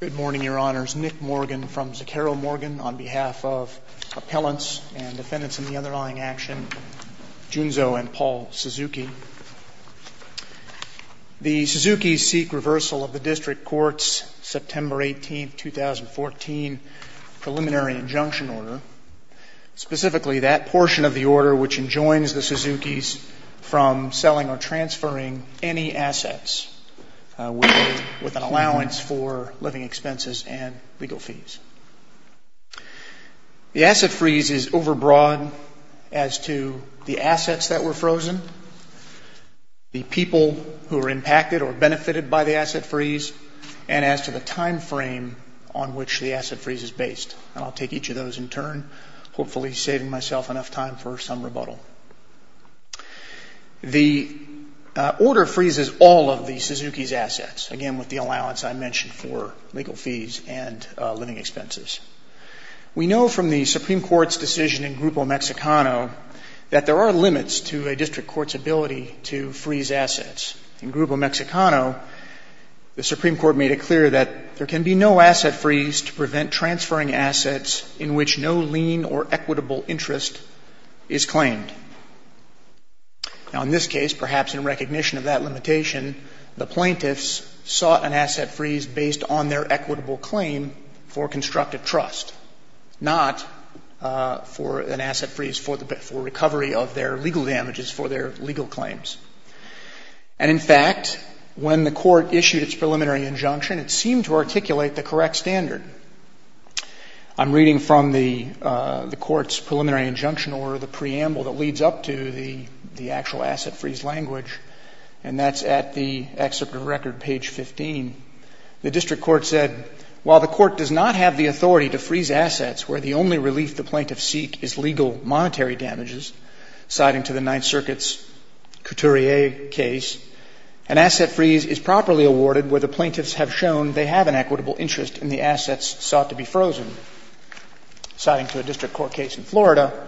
Good morning, Your Honors. Nick Morgan from Zakharov Morgan on behalf of Appellants and Defendants in the Underlying Action, Junzo and Paul Suzuki. The Suzuki's seek reversal of the District Court's September 18, 2014 preliminary injunction order, specifically that portion of the order which enjoins the Suzuki's from selling or transferring any assets with an allowance for living expenses and legal fees. The asset freeze is overbroad as to the assets that were frozen, the people who were impacted or benefited by the asset freeze, and as to the time frame on which the asset freeze is based. And I'll take each of those in turn, hopefully saving myself enough time for some rebuttal. The order freezes all of the Suzuki's assets, again with the allowance I mentioned for legal fees and living expenses. We know from the Supreme Court's decision in Grupo Mexicano that there are limits to a District Court's ability to freeze assets. In Grupo Mexicano, the Supreme Court made it clear that there can be no asset freeze to prevent transferring assets in which no lien or equitable interest is claimed. Now, in this case, perhaps in recognition of that limitation, the plaintiffs sought an asset freeze based on their equitable claim for constructive trust, not for an asset freeze for recovery of their legal damages for their legal claims. And, in fact, when the Court issued its preliminary injunction, it seemed to articulate the correct standard. I'm reading from the Court's preliminary injunction or the preamble that leads up to the actual asset freeze language, and that's at the excerpt of record, page 15. The District Court said, while the Court does not have the authority to freeze assets where the only relief the plaintiffs seek is legal monetary damages, citing to the Ninth Circuit's Couturier case, an asset freeze is properly awarded where the plaintiffs have shown they have an equitable interest and the assets sought to be frozen. Citing to a District Court case in Florida,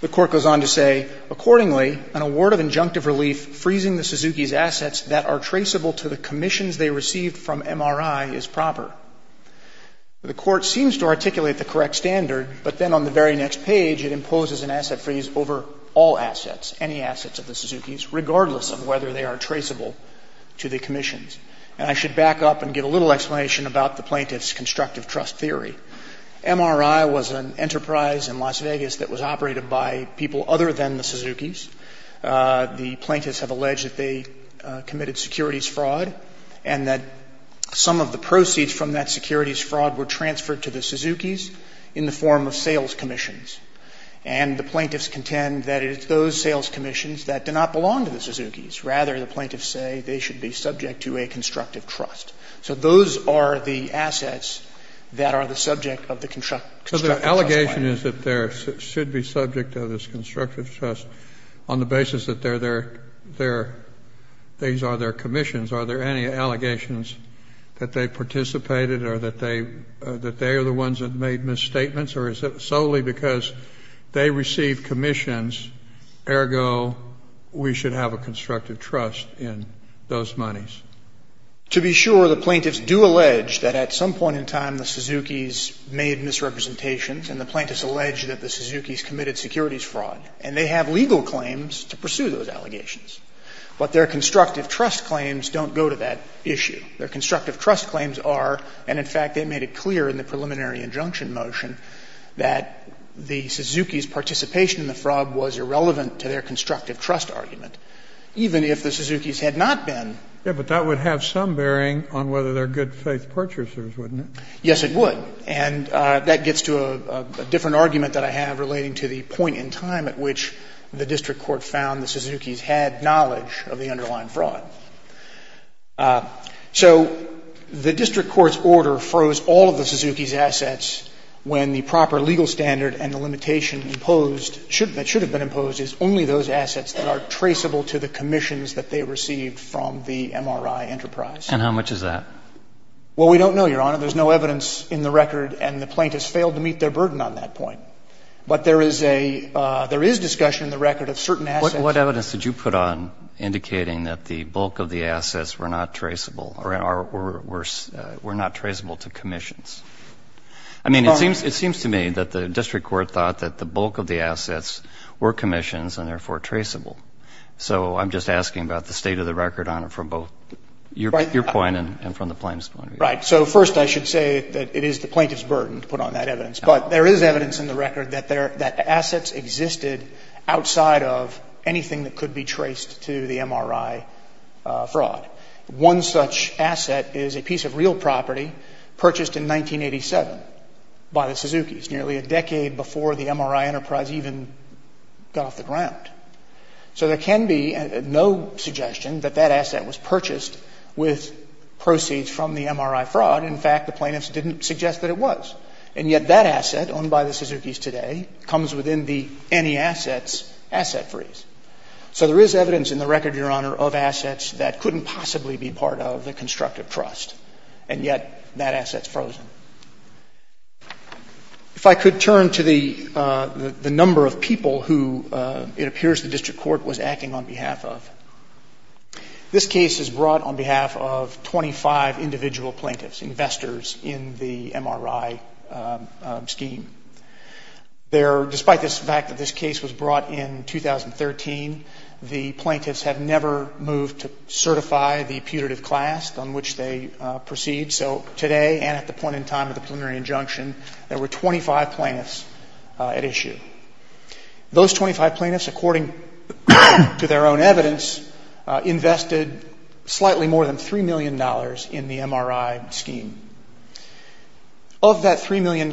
the Court goes on to say, Accordingly, an award of injunctive relief freezing the Suzuki's assets that are traceable to the commissions they received from MRI is proper. The Court seems to articulate the correct standard, but then on the very next page it imposes an asset freeze over all assets, any assets of the Suzuki's, regardless of whether they are traceable to the commissions. And I should back up and give a little explanation about the plaintiffs' constructive trust theory. MRI was an enterprise in Las Vegas that was operated by people other than the Suzuki's. The plaintiffs have alleged that they committed securities fraud and that some of the proceeds from that securities fraud were transferred to the Suzuki's in the form of sales commissions. And the plaintiffs contend that it's those sales commissions that do not belong to the Suzuki's. Rather, the plaintiffs say they should be subject to a constructive trust. So those are the assets that are the subject of the constructive trust plan. Kennedy, So the allegation is that they should be subject to this constructive trust on the basis that they're their – these are their commissions. Are there any allegations that they participated or that they are the ones that made misstatements or is it solely because they received commissions, ergo, we should have a constructive trust in those monies? To be sure, the plaintiffs do allege that at some point in time the Suzuki's made misrepresentations and the plaintiffs allege that the Suzuki's committed securities fraud. And they have legal claims to pursue those allegations. But their constructive trust claims don't go to that issue. Their constructive trust claims are, and in fact, they made it clear in the preliminary injunction motion that the Suzuki's participation in the fraud was irrelevant to their constructive trust argument, even if the Suzuki's had not been. Yes, but that would have some bearing on whether they're good-faith purchasers, wouldn't it? Yes, it would. And that gets to a different argument that I have relating to the point in time at which the district court found the Suzuki's had knowledge of the underlying fraud. So the district court's order froze all of the Suzuki's assets when the proper legal standard and the limitation imposed that should have been imposed is only those assets that are traceable to the commissions that they received from the MRI enterprise. And how much is that? Well, we don't know, Your Honor. There's no evidence in the record, and the plaintiffs failed to meet their burden on that point. But there is a – there is discussion in the record of certain assets. So what evidence did you put on indicating that the bulk of the assets were not traceable or were not traceable to commissions? I mean, it seems to me that the district court thought that the bulk of the assets were commissions and therefore traceable. So I'm just asking about the state of the record on it from both your point and from the plaintiff's point of view. Right. So first I should say that it is the plaintiff's burden to put on that evidence. But there is evidence in the record that there – that the assets existed outside of anything that could be traced to the MRI fraud. One such asset is a piece of real property purchased in 1987 by the Suzuki's, nearly a decade before the MRI enterprise even got off the ground. So there can be no suggestion that that asset was purchased with proceeds from the MRI fraud. In fact, the plaintiffs didn't suggest that it was. And yet that asset, owned by the Suzuki's today, comes within the any assets asset freeze. So there is evidence in the record, Your Honor, of assets that couldn't possibly be part of the constructive trust, and yet that asset's frozen. If I could turn to the – the number of people who it appears the district court was acting on behalf of. This case is brought on behalf of 25 individual plaintiffs, investors, in the MRI scheme. There – despite this fact that this case was brought in 2013, the plaintiffs have never moved to certify the putative class on which they proceed. So today, and at the point in time of the preliminary injunction, there were 25 plaintiffs at issue. Those 25 plaintiffs, according to their own evidence, invested slightly more than $3 million in the MRI scheme. Of that $3 million,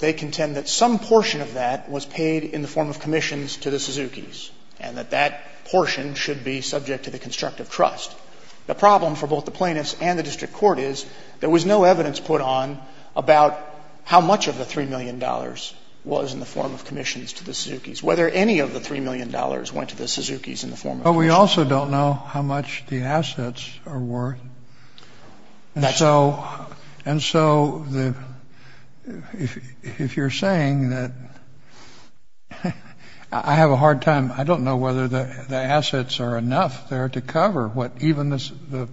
they contend that some portion of that was paid in the form of commissions to the Suzuki's, and that that portion should be subject to the constructive trust. The problem for both the plaintiffs and the district court is there was no evidence put on about how much of the $3 million was in the form of commissions to the Suzuki's, whether any of the $3 million went to the Suzuki's in the form of commissions. But we also don't know how much the assets are worth, and so – and so the – if you're saying that – I have a hard time – I don't know whether the assets are enough there to cover what – even the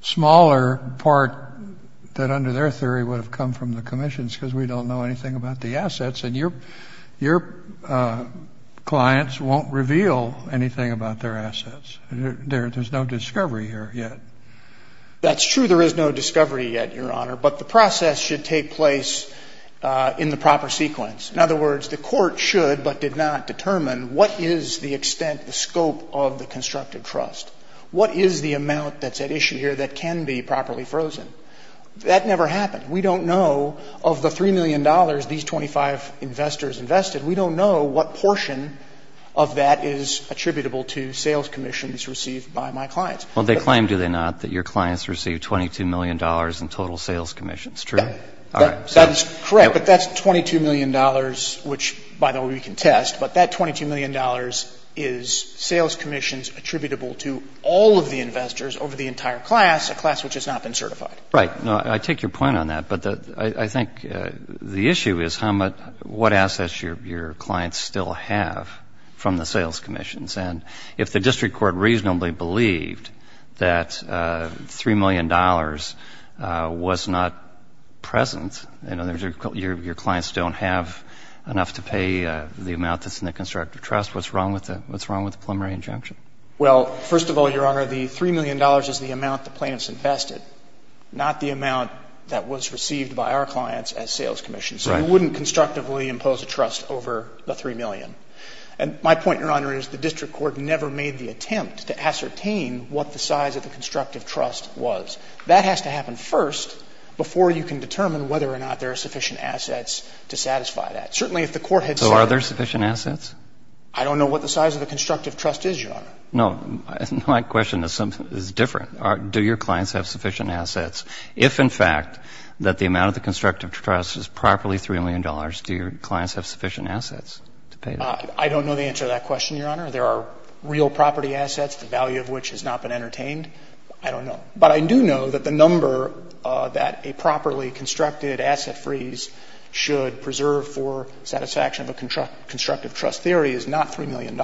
smaller part that under their theory would have come from the commissions, because we don't know anything about the assets, and your – your clients won't reveal anything about their assets. There's no discovery here yet. That's true. There is no discovery yet, Your Honor. But the process should take place in the proper sequence. In other words, the court should but did not determine what is the extent, the scope of the constructive trust. What is the amount that's at issue here that can be properly frozen? That never happened. We don't know. Of the $3 million these 25 investors invested, we don't know what portion of that is attributable to sales commissions received by my clients. Well, they claim, do they not, that your clients received $22 million in total sales commissions, true? Yeah. All right. That's correct, but that's $22 million, which, by the way, we can test, but that $22 million is sales commissions attributable to all of the investors over the entire class, a class which has not been certified. Right. No, I take your point on that, but I think the issue is how much, what assets your clients still have from the sales commissions. And if the district court reasonably believed that $3 million was not present, in other words, your clients don't have enough to pay the amount that's in the constructive trust, what's wrong with the preliminary injunction? Well, first of all, Your Honor, the $3 million is the amount the plaintiffs invested, not the amount that was received by our clients as sales commissions. Right. So we wouldn't constructively impose a trust over the $3 million. And my point, Your Honor, is the district court never made the attempt to ascertain what the size of the constructive trust was. That has to happen first before you can determine whether or not there are sufficient assets to satisfy that. Certainly, if the court had said— So are there sufficient assets? I don't know what the size of the constructive trust is, Your Honor. No. My question is different. Do your clients have sufficient assets? If, in fact, that the amount of the constructive trust is properly $3 million, do your clients have sufficient assets to pay that? I don't know the answer to that question, Your Honor. There are real property assets, the value of which has not been entertained. I don't know. But I do know that the number that a properly constructed asset freeze should preserve for satisfaction of a constructive trust theory is not $3 million.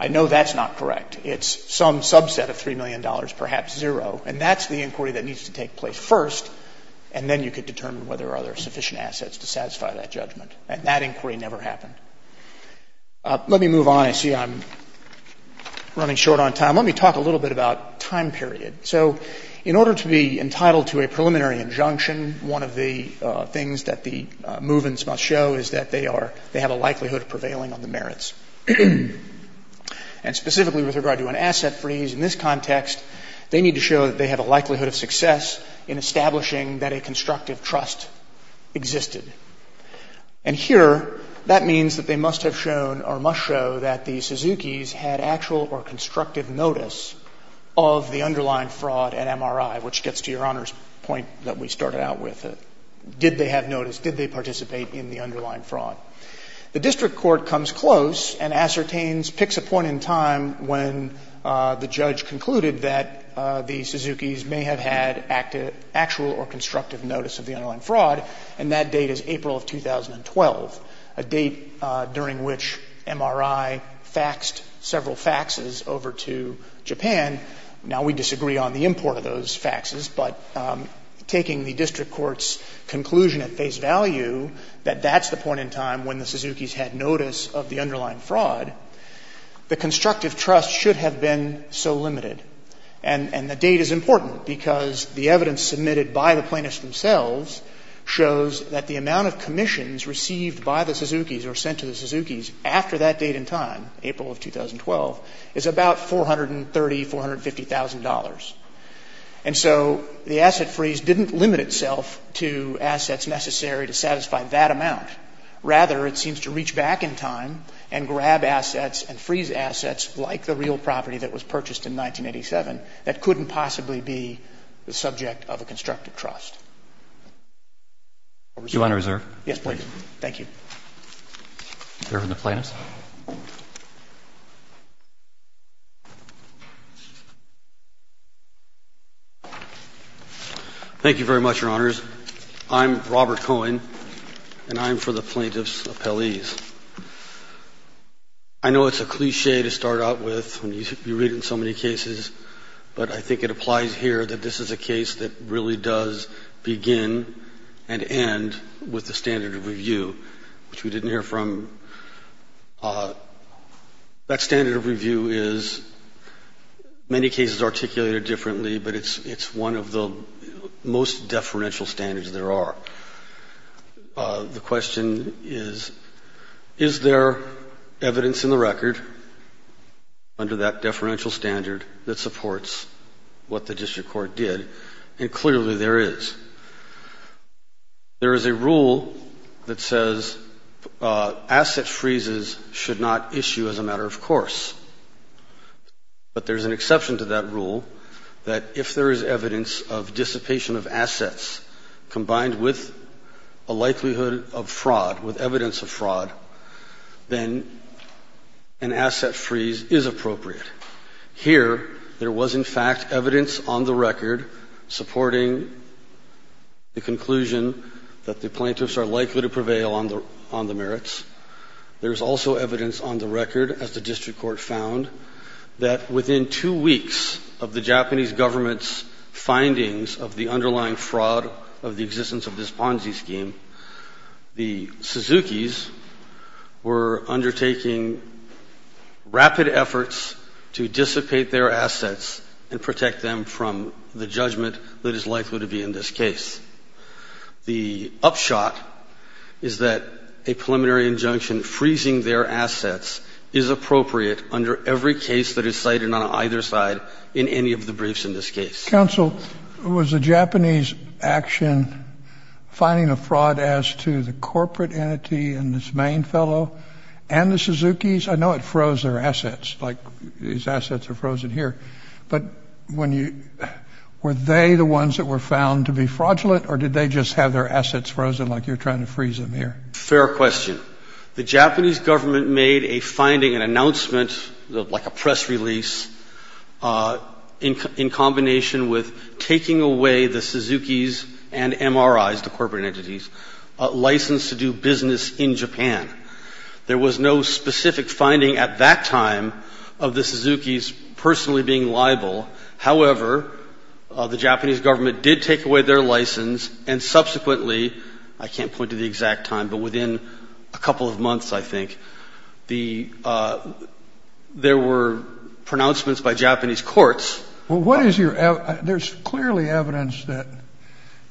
I know that's not correct. It's some subset of $3 million, perhaps zero. And that's the inquiry that needs to take place first, and then you can determine whether or not there are sufficient assets to satisfy that judgment. And that inquiry never happened. Let me move on. I see I'm running short on time. Let me talk a little bit about time period. So in order to be entitled to a preliminary injunction, one of the things that the movements must show is that they are they have a likelihood of prevailing on the merits. And specifically with regard to an asset freeze, in this context, they need to show that they have a likelihood of success in establishing that a constructive trust existed. And here, that means that they must have shown or must show that the Suzuki's had actual or constructive notice of the underlying fraud at MRI, which gets to Your Honor's point that we started out with. Did they have notice? Did they participate in the underlying fraud? The district court comes close and ascertains, picks a point in time when the judge concluded that the Suzuki's may have had actual or constructive notice of the underlying fraud, and that date is April of 2012, a date during which MRI faxed several faxes over to Japan. Now, we disagree on the import of those faxes, but taking the district court's conclusion at face value that that's the point in time when the Suzuki's had notice of the underlying fraud, the constructive trust should have been so limited. And the date is important because the evidence submitted by the plaintiffs themselves shows that the amount of commissions received by the Suzuki's or sent to the Suzuki's after that date in time, April of 2012, is about $430,000, $450,000. And so the asset freeze didn't limit itself to assets necessary to satisfy that amount. Rather, it seems to reach back in time and grab assets and freeze assets like the real property that was purchased in 1987 that couldn't possibly be the subject of a constructive trust. Your Honor, reserve? Yes, please. Thank you. Thank you very much, Your Honors. I'm Robert Cohen, and I'm for the plaintiff's appellees. I know it's a cliché to start out with when you read in so many cases, but I think it applies here that this is a case that really does begin and end with a deferential standard, which we didn't hear from. That standard of review is, in many cases, articulated differently, but it's one of the most deferential standards there are. The question is, is there evidence in the record under that deferential standard that supports what the district court did? And clearly, there is. There is a rule that says asset freezes should not issue as a matter of course, but there's an exception to that rule that if there is evidence of dissipation of assets combined with a likelihood of fraud, with evidence of fraud, then an asset freeze is appropriate. Here, there was, in fact, evidence on the record that supported the conclusion that the plaintiffs are likely to prevail on the merits. There's also evidence on the record, as the district court found, that within two weeks of the Japanese government's findings of the underlying fraud of the existence of this Ponzi scheme, the Suzuki's were undertaking rapid efforts to freeze their assets. And there's evidence in the record that supports what the district court found to be in this case. The upshot is that a preliminary injunction freezing their assets is appropriate under every case that is cited on either side in any of the briefs in this case. Kennedy. Counsel, was the Japanese action finding a fraud as to the corporate entity and its main fellow and the Suzuki's? I know it froze their assets, like these assets are frozen here, but were they the ones that were found to be fraudulent, or did they just have their assets frozen like you're trying to freeze them here? Fair question. The Japanese government made a finding, an announcement, like a press release, in combination with taking away the Suzuki's and MRI's, the corporate entities, license to do business in Japan. There was no specific finding at that time of the Suzuki's personally being liable. However, the Japanese government did take away their license, and subsequently, I can't point to the exact time, but within a couple of months, I think, there were pronouncements by Japanese courts. There's clearly evidence that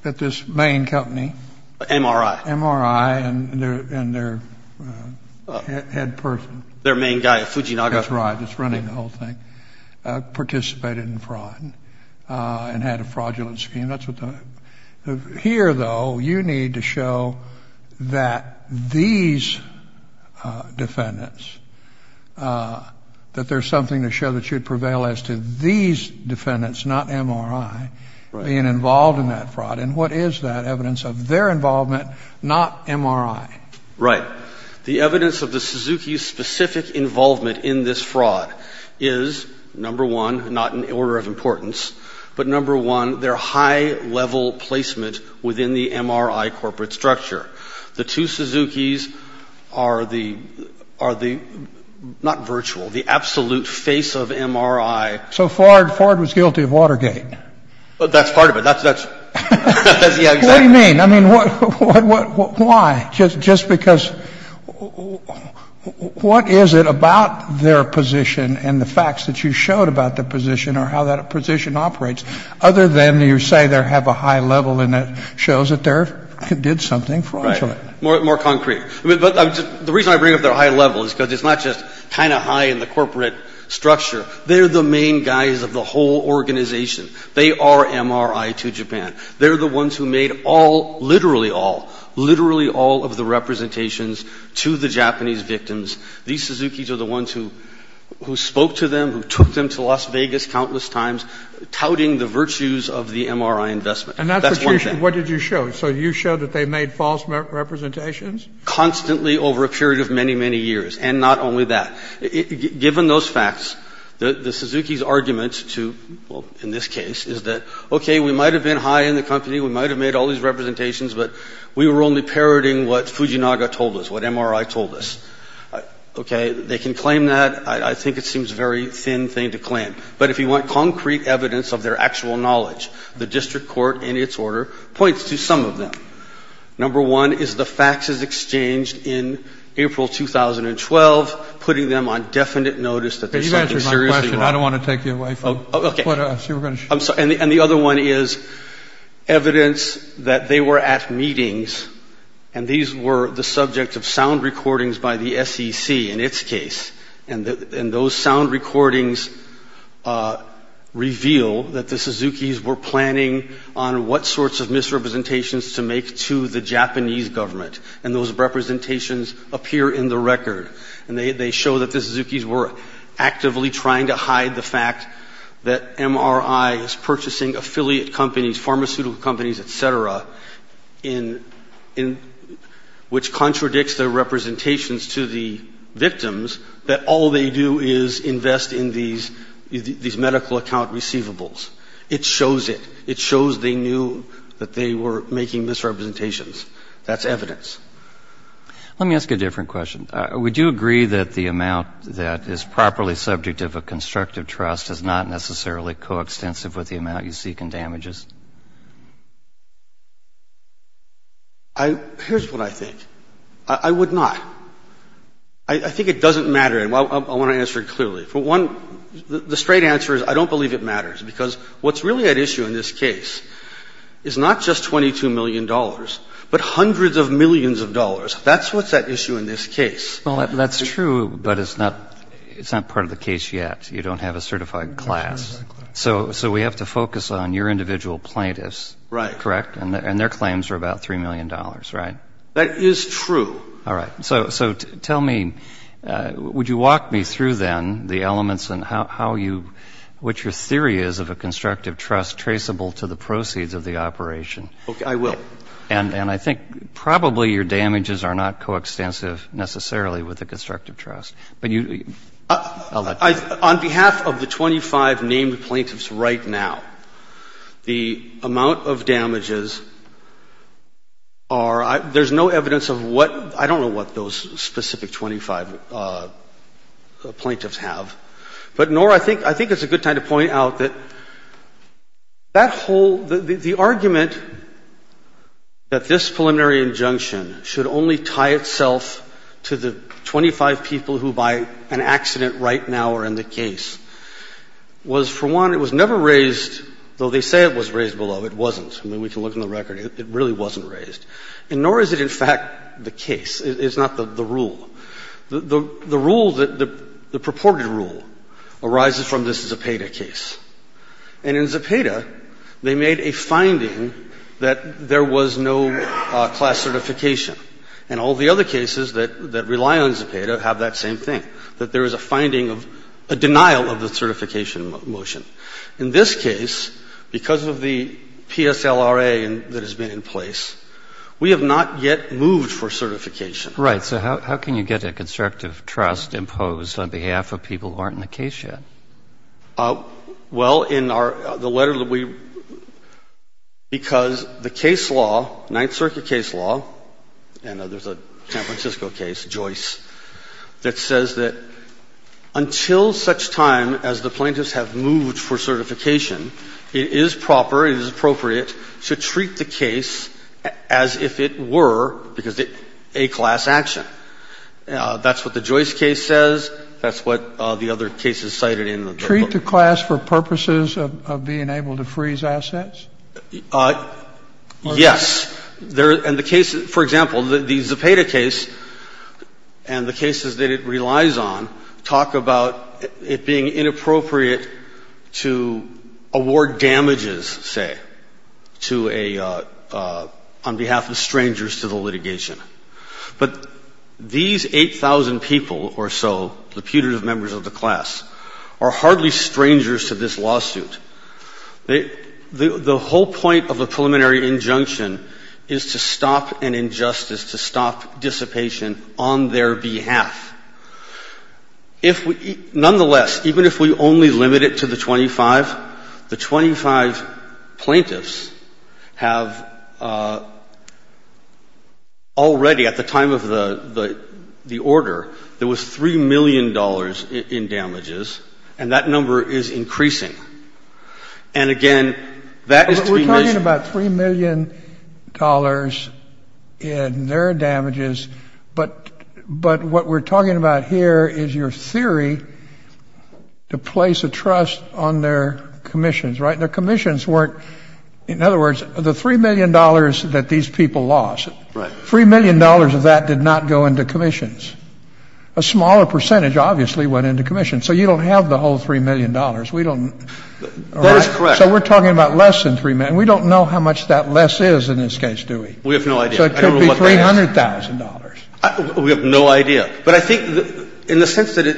this main company... MRI. MRI and their head person. Their main guy at Fujinaga. That's right. It's running the whole thing. Participated in fraud and had a fraudulent scheme. Here, though, you need to show that these defendants, that there's something to show that should prevail as to these defendants, not MRI, being involved in that fraud. And what is that evidence of their involvement, not MRI? Right. The evidence of the Suzuki's specific involvement in this fraud is, number one, not in order of importance, but number one, their high-level placement within the MRI corporate structure. The two Suzuki's are the, not virtual, the absolute face of MRI. So Ford was guilty of Watergate? That's part of it. That's, yeah, exactly. What do you mean? I mean, what, why? Just because, what is it about their position and the facts that you showed about their position or how that position operates, other than you say they have a high level and it shows that they did something fraudulent? Right. More concrete. The reason I bring up their high level is because it's not just kind of high in the corporate structure. They're the main guys of the whole organization. They are MRI to Japan. They're the ones who made all, literally all, literally all of the representations to the Japanese victims. These Suzuki's are the ones who spoke to them, who took them to Las Vegas countless times, touting the virtues of the MRI investment. That's one thing. And that's what you, what did you show? So you showed that they made false representations? Constantly over a period of many, many years. And not only that. Given those facts, the Suzuki's arguments to, well, in this case, is that, okay, we might have been high in the company, we might have made all these representations, but we were only parroting what Fujinaga told us, what MRI told us. Okay. They can claim that. I think it seems a very thin thing to claim. But if you want concrete evidence of their actual knowledge, the district court, in its order, points to some of them. Number one is the faxes exchanged in April 2012, putting them on definite notice that there's something seriously wrong. You've answered my question. I don't want to take you away from it. And the other one is evidence that they were at meetings, and these were the subject of sound recordings by the SEC in its case. And those sound recordings reveal that the Suzuki's were planning on what sorts of misrepresentations to make to the Japanese government. And those representations appear in the record. And they show that the Suzuki's were actively trying to hide the fact that MRI is purchasing affiliate companies, pharmaceutical companies, et cetera, which contradicts their representations to the victims, that all they do is invest in these medical account receivables. It shows it. It shows they knew that they were making misrepresentations. That's evidence. Let me ask a different question. Would you agree that the amount that is properly subject of a constructive trust is not necessarily coextensive with the amount you seek in damages? Here's what I think. I would not. I think it doesn't matter. And I want to answer it clearly. For one, the straight answer is I don't believe it matters, because what's really at issue in this case is not just $22 million, but hundreds of millions of dollars. That's what's at issue in this case. Well, that's true, but it's not part of the case yet. You don't have a certified class. So we have to focus on your individual plaintiffs. Right. Correct? And their claims are about $3 million, right? That is true. All right. So tell me, would you walk me through, then, the elements and how you, what your theory is of a constructive trust traceable to the proceeds of the operation? I will. And I think probably your damages are not coextensive necessarily with a constructive trust. On behalf of the 25 named plaintiffs right now, the amount of damages are, there's no evidence of what, I don't know what those specific 25 plaintiffs have. But nor I think, I think it's a good time to point out that that whole, the argument that this preliminary injunction should only tie itself to the 25 people who by an accident right now are in the case, was for one, it was never raised, though they say it was raised below, it wasn't. I mean, we can look in the record. It really wasn't raised. And nor is it, in fact, the case. It's not the rule. The rule, the purported rule arises from this Zepeda case. And in Zepeda, they made a finding that there was no class certification. And all the other cases that rely on Zepeda have that same thing, that there is a finding of a denial of the certification motion. In this case, because of the PSLRA that has been in place, we have not yet moved for certification. Right. So how can you get a constructive trust imposed on behalf of people who aren't in the case yet? Well, in our, the letter that we, because the case law, Ninth Circuit case law, and there's a San Francisco case, Joyce, that says that until such time as the plaintiffs have moved for certification, it is proper, it is appropriate to treat the case as if it were a class action. That's what the Joyce case says. That's what the other cases cited in the book. Treat the class for purposes of being able to freeze assets? Yes. And the case, for example, the Zepeda case and the cases that it relies on talk about it being inappropriate to award damages, say, to a, on behalf of strangers to the litigation. But these 8,000 people or so, the putative members of the class, are hardly strangers to this lawsuit. The whole point of a preliminary injunction is to stop an injustice, to stop dissipation on their behalf. If we, nonetheless, even if we only limit it to the 25, the 25 plaintiffs have already, at the time of the order, there was $3 million in damages, and that number is increasing. And again, that is to be measured. But we're talking about $3 million in their damages, but what we're talking about here is your theory to place a trust on their commissions, right? Their commissions weren't, in other words, the $3 million that these people lost. Right. $3 million of that did not go into commissions. A smaller percentage, obviously, went into commissions. So you don't have the whole $3 million. We don't. That is correct. So we're talking about less than $3 million. We don't know how much that less is in this case, do we? We have no idea. So it could be $300,000. We have no idea. But I think in the sense that it,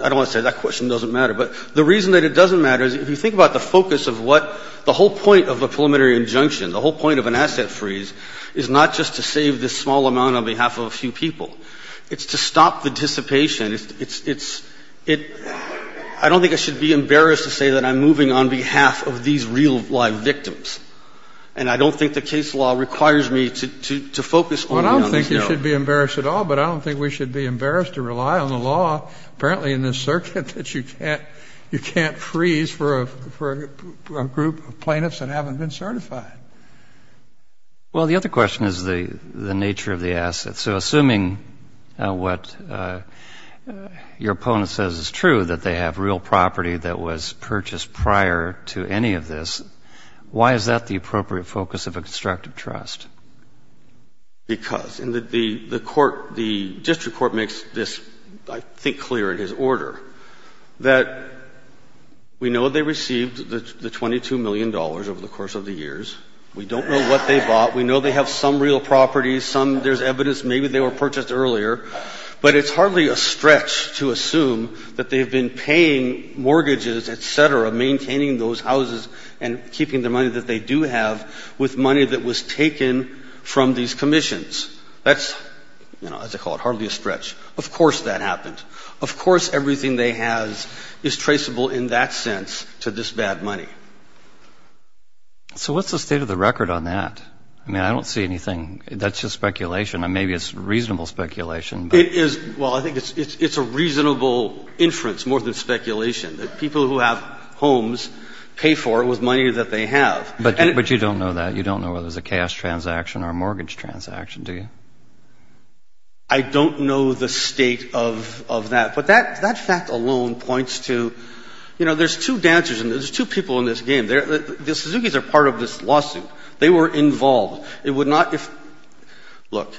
I don't want to say that question doesn't matter, but the reason that it doesn't matter is if you think about the focus of what the whole point of a preliminary injunction, the whole point of an asset freeze, is not just to save this small amount on behalf of a few people. It's to stop the dissipation. It's, it's, it, I don't think I should be embarrassed to say that I'm moving on behalf of these real, live victims. And I don't think the case law requires me to, to, to focus only on this note. Well, I don't think you should be embarrassed at all, but I don't think we should be embarrassed to rely on the law, apparently in this circuit, that you can't, you can't freeze for a, for a group of plaintiffs that haven't been certified. Well, the other question is the, the nature of the asset. So assuming what your opponent says is true, that they have real property that was purchased prior to any of this, why is that the appropriate focus of a constructive trust? Because, and the, the court, the district court makes this, I think, clear in his order, that we know they received the, the $22 million over the course of the years. We don't know what they bought. We know they have some real properties, some there's evidence maybe they were purchased earlier, but it's hardly a stretch to assume that they've been paying mortgages, et cetera, maintaining those houses and keeping the money that they do have with money that was taken from these commissions. That's, you know, as they call it, hardly a stretch. Of course that happened. Of course everything they have is traceable in that sense to this bad money. So what's the state of the record on that? I mean, I don't see anything, that's just speculation. Maybe it's reasonable speculation, but. It is, well, I think it's, it's, it's a reasonable inference more than speculation that people who have homes pay for it with money that they have. But, but you don't know that. You don't know whether it was a cash transaction or a mortgage transaction, do you? I don't know the state of, of that. But that, that fact alone points to, you know, there's two dancers and there's two people in this game. The, the Suzuki's are part of this lawsuit. They were involved. It would not, if, look,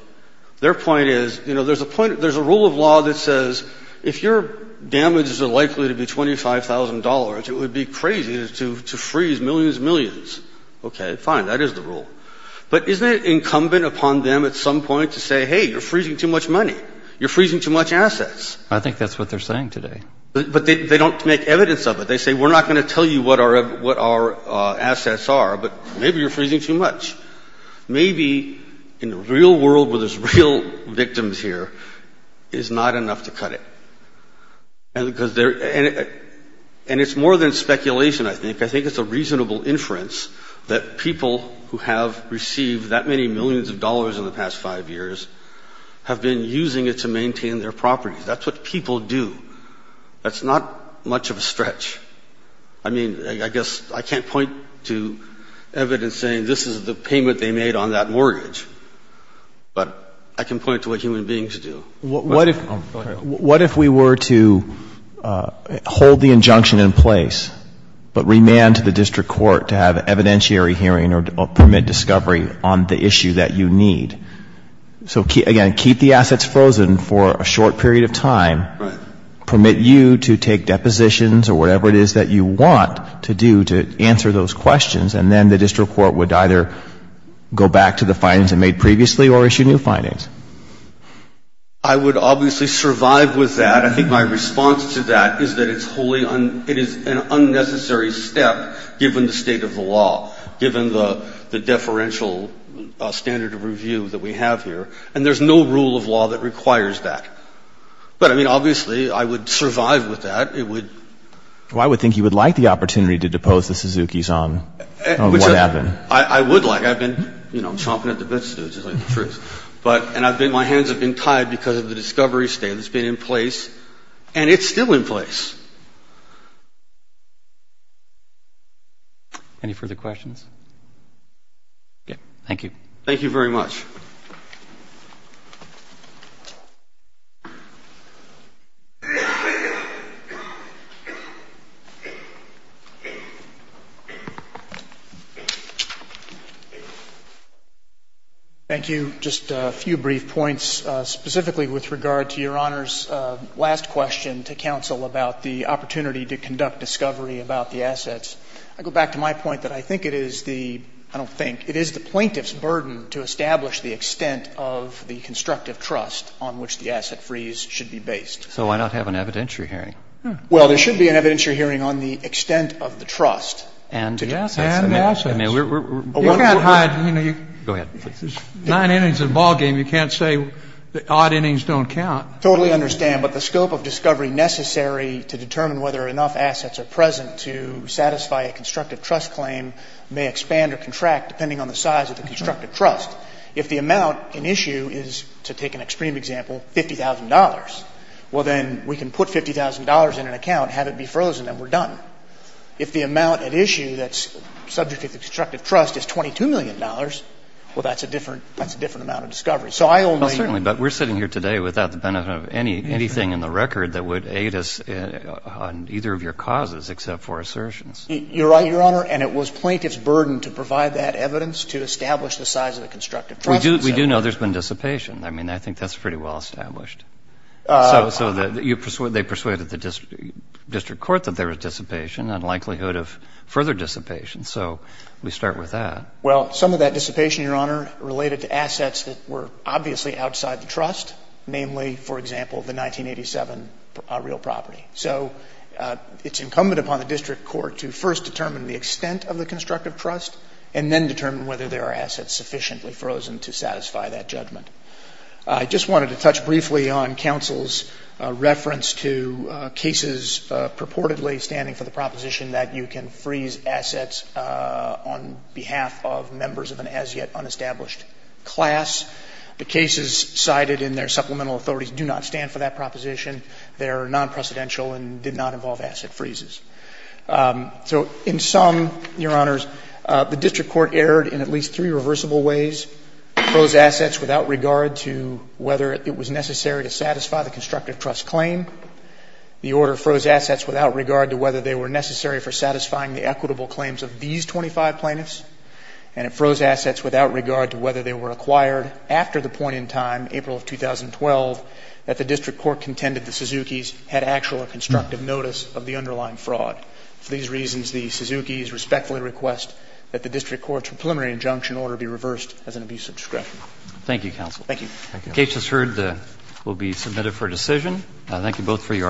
their point is, you know, there's a point, there's a rule of law that says if your damages are likely to be $25,000, it would be crazy to, to freeze millions and millions. Okay, fine, that is the rule. But isn't it incumbent upon them at some point to say, hey, you're freezing too much money. You're freezing too much assets. I think that's what they're saying today. But they, they don't make evidence of it. They say, we're not going to tell you what our, what our assets are, but maybe you're freezing too much. Maybe in the real world where there's real victims here, it is not enough to cut it. And because there, and, and it's more than speculation, I think. I think it's a reasonable inference that people who have received that many millions of dollars in the past five years have been using it to maintain their properties. That's not much of a stretch. I mean, I guess I can't point to evidence saying this is the payment they made on that mortgage. But I can point to what human beings do. What if, what if we were to hold the injunction in place, but remand to the district court to have an evidentiary hearing or permit discovery on the issue that you need? So again, keep the assets frozen for a short period of time. Right. Or permit you to take depositions or whatever it is that you want to do to answer those questions. And then the district court would either go back to the findings it made previously or issue new findings. I would obviously survive with that. I think my response to that is that it's wholly, it is an unnecessary step given the state of the law, given the, the deferential standard of review that we have here. And there's no rule of law that requires that. But I mean, obviously, I would survive with that. It would. Well, I would think you would like the opportunity to depose the Suzukis on what happened. I would like. I've been, you know, chomping at the bits too, to tell you the truth. But, and I've been, my hands have been tied because of the discovery state that's been in place. And it's still in place. Any further questions? Okay. Thank you. Thank you very much. Thank you. Just a few brief points, specifically with regard to Your Honor's last question to counsel about the opportunity to conduct discovery about the assets. I go back to my point that I think it is the, I don't think, it is the plaintiff's burden to establish the extent of the constructive trust on which the asset freeze should be based. So why not have an evidentiary hearing? Well, there should be an evidentiary hearing on the extent of the trust. And yes, and yes. I mean, we're, we're, we're. You can't hide. You know, you. Go ahead. Nine innings in a ballgame, you can't say odd innings don't count. Totally understand. But the scope of discovery necessary to determine whether enough assets are present to satisfy a constructive trust claim may expand or contract, depending on the size of the constructive trust. If the amount at issue is, to take an extreme example, $50,000, well, then we can put $50,000 in an account, have it be frozen, and we're done. If the amount at issue that's subject to the constructive trust is $22 million, well, that's a different, that's a different amount of discovery. So I only. Well, certainly, but we're sitting here today without the benefit of any, anything in the record that would aid us on either of your causes except for assertions. You're right, Your Honor. And it was plaintiff's burden to provide that evidence to establish the size of the constructive trust. We do, we do know there's been dissipation. I mean, I think that's pretty well established. So, so that you, they persuaded the district court that there was dissipation and likelihood of further dissipation. So we start with that. Well, some of that dissipation, Your Honor, related to assets that were obviously outside the trust, namely, for example, the 1987 real property. So it's incumbent upon the district court to first determine the extent of the constructive trust and then determine whether there are assets sufficiently frozen to satisfy that judgment. I just wanted to touch briefly on counsel's reference to cases purportedly standing for the proposition that you can freeze assets on behalf of members of an as-yet-unestablished class. The cases cited in their supplemental authorities do not stand for that proposition. They're non-precedential and did not involve asset freezes. So in some, Your Honors, the district court erred in at least three reversible ways. It froze assets without regard to whether it was necessary to satisfy the constructive trust claim. The order froze assets without regard to whether they were necessary for satisfying the equitable claims of these 25 plaintiffs. And it froze assets without regard to whether they were acquired after the point in time, April of 2012, that the district court contended the Suzuki's had actual or constructive notice of the underlying fraud. For these reasons, the Suzuki's respectfully request that the district court's preliminary injunction order be reversed as an abuse of discretion. Thank you, counsel. Thank you. The case is heard. It will be submitted for decision. Thank you both for your arguments.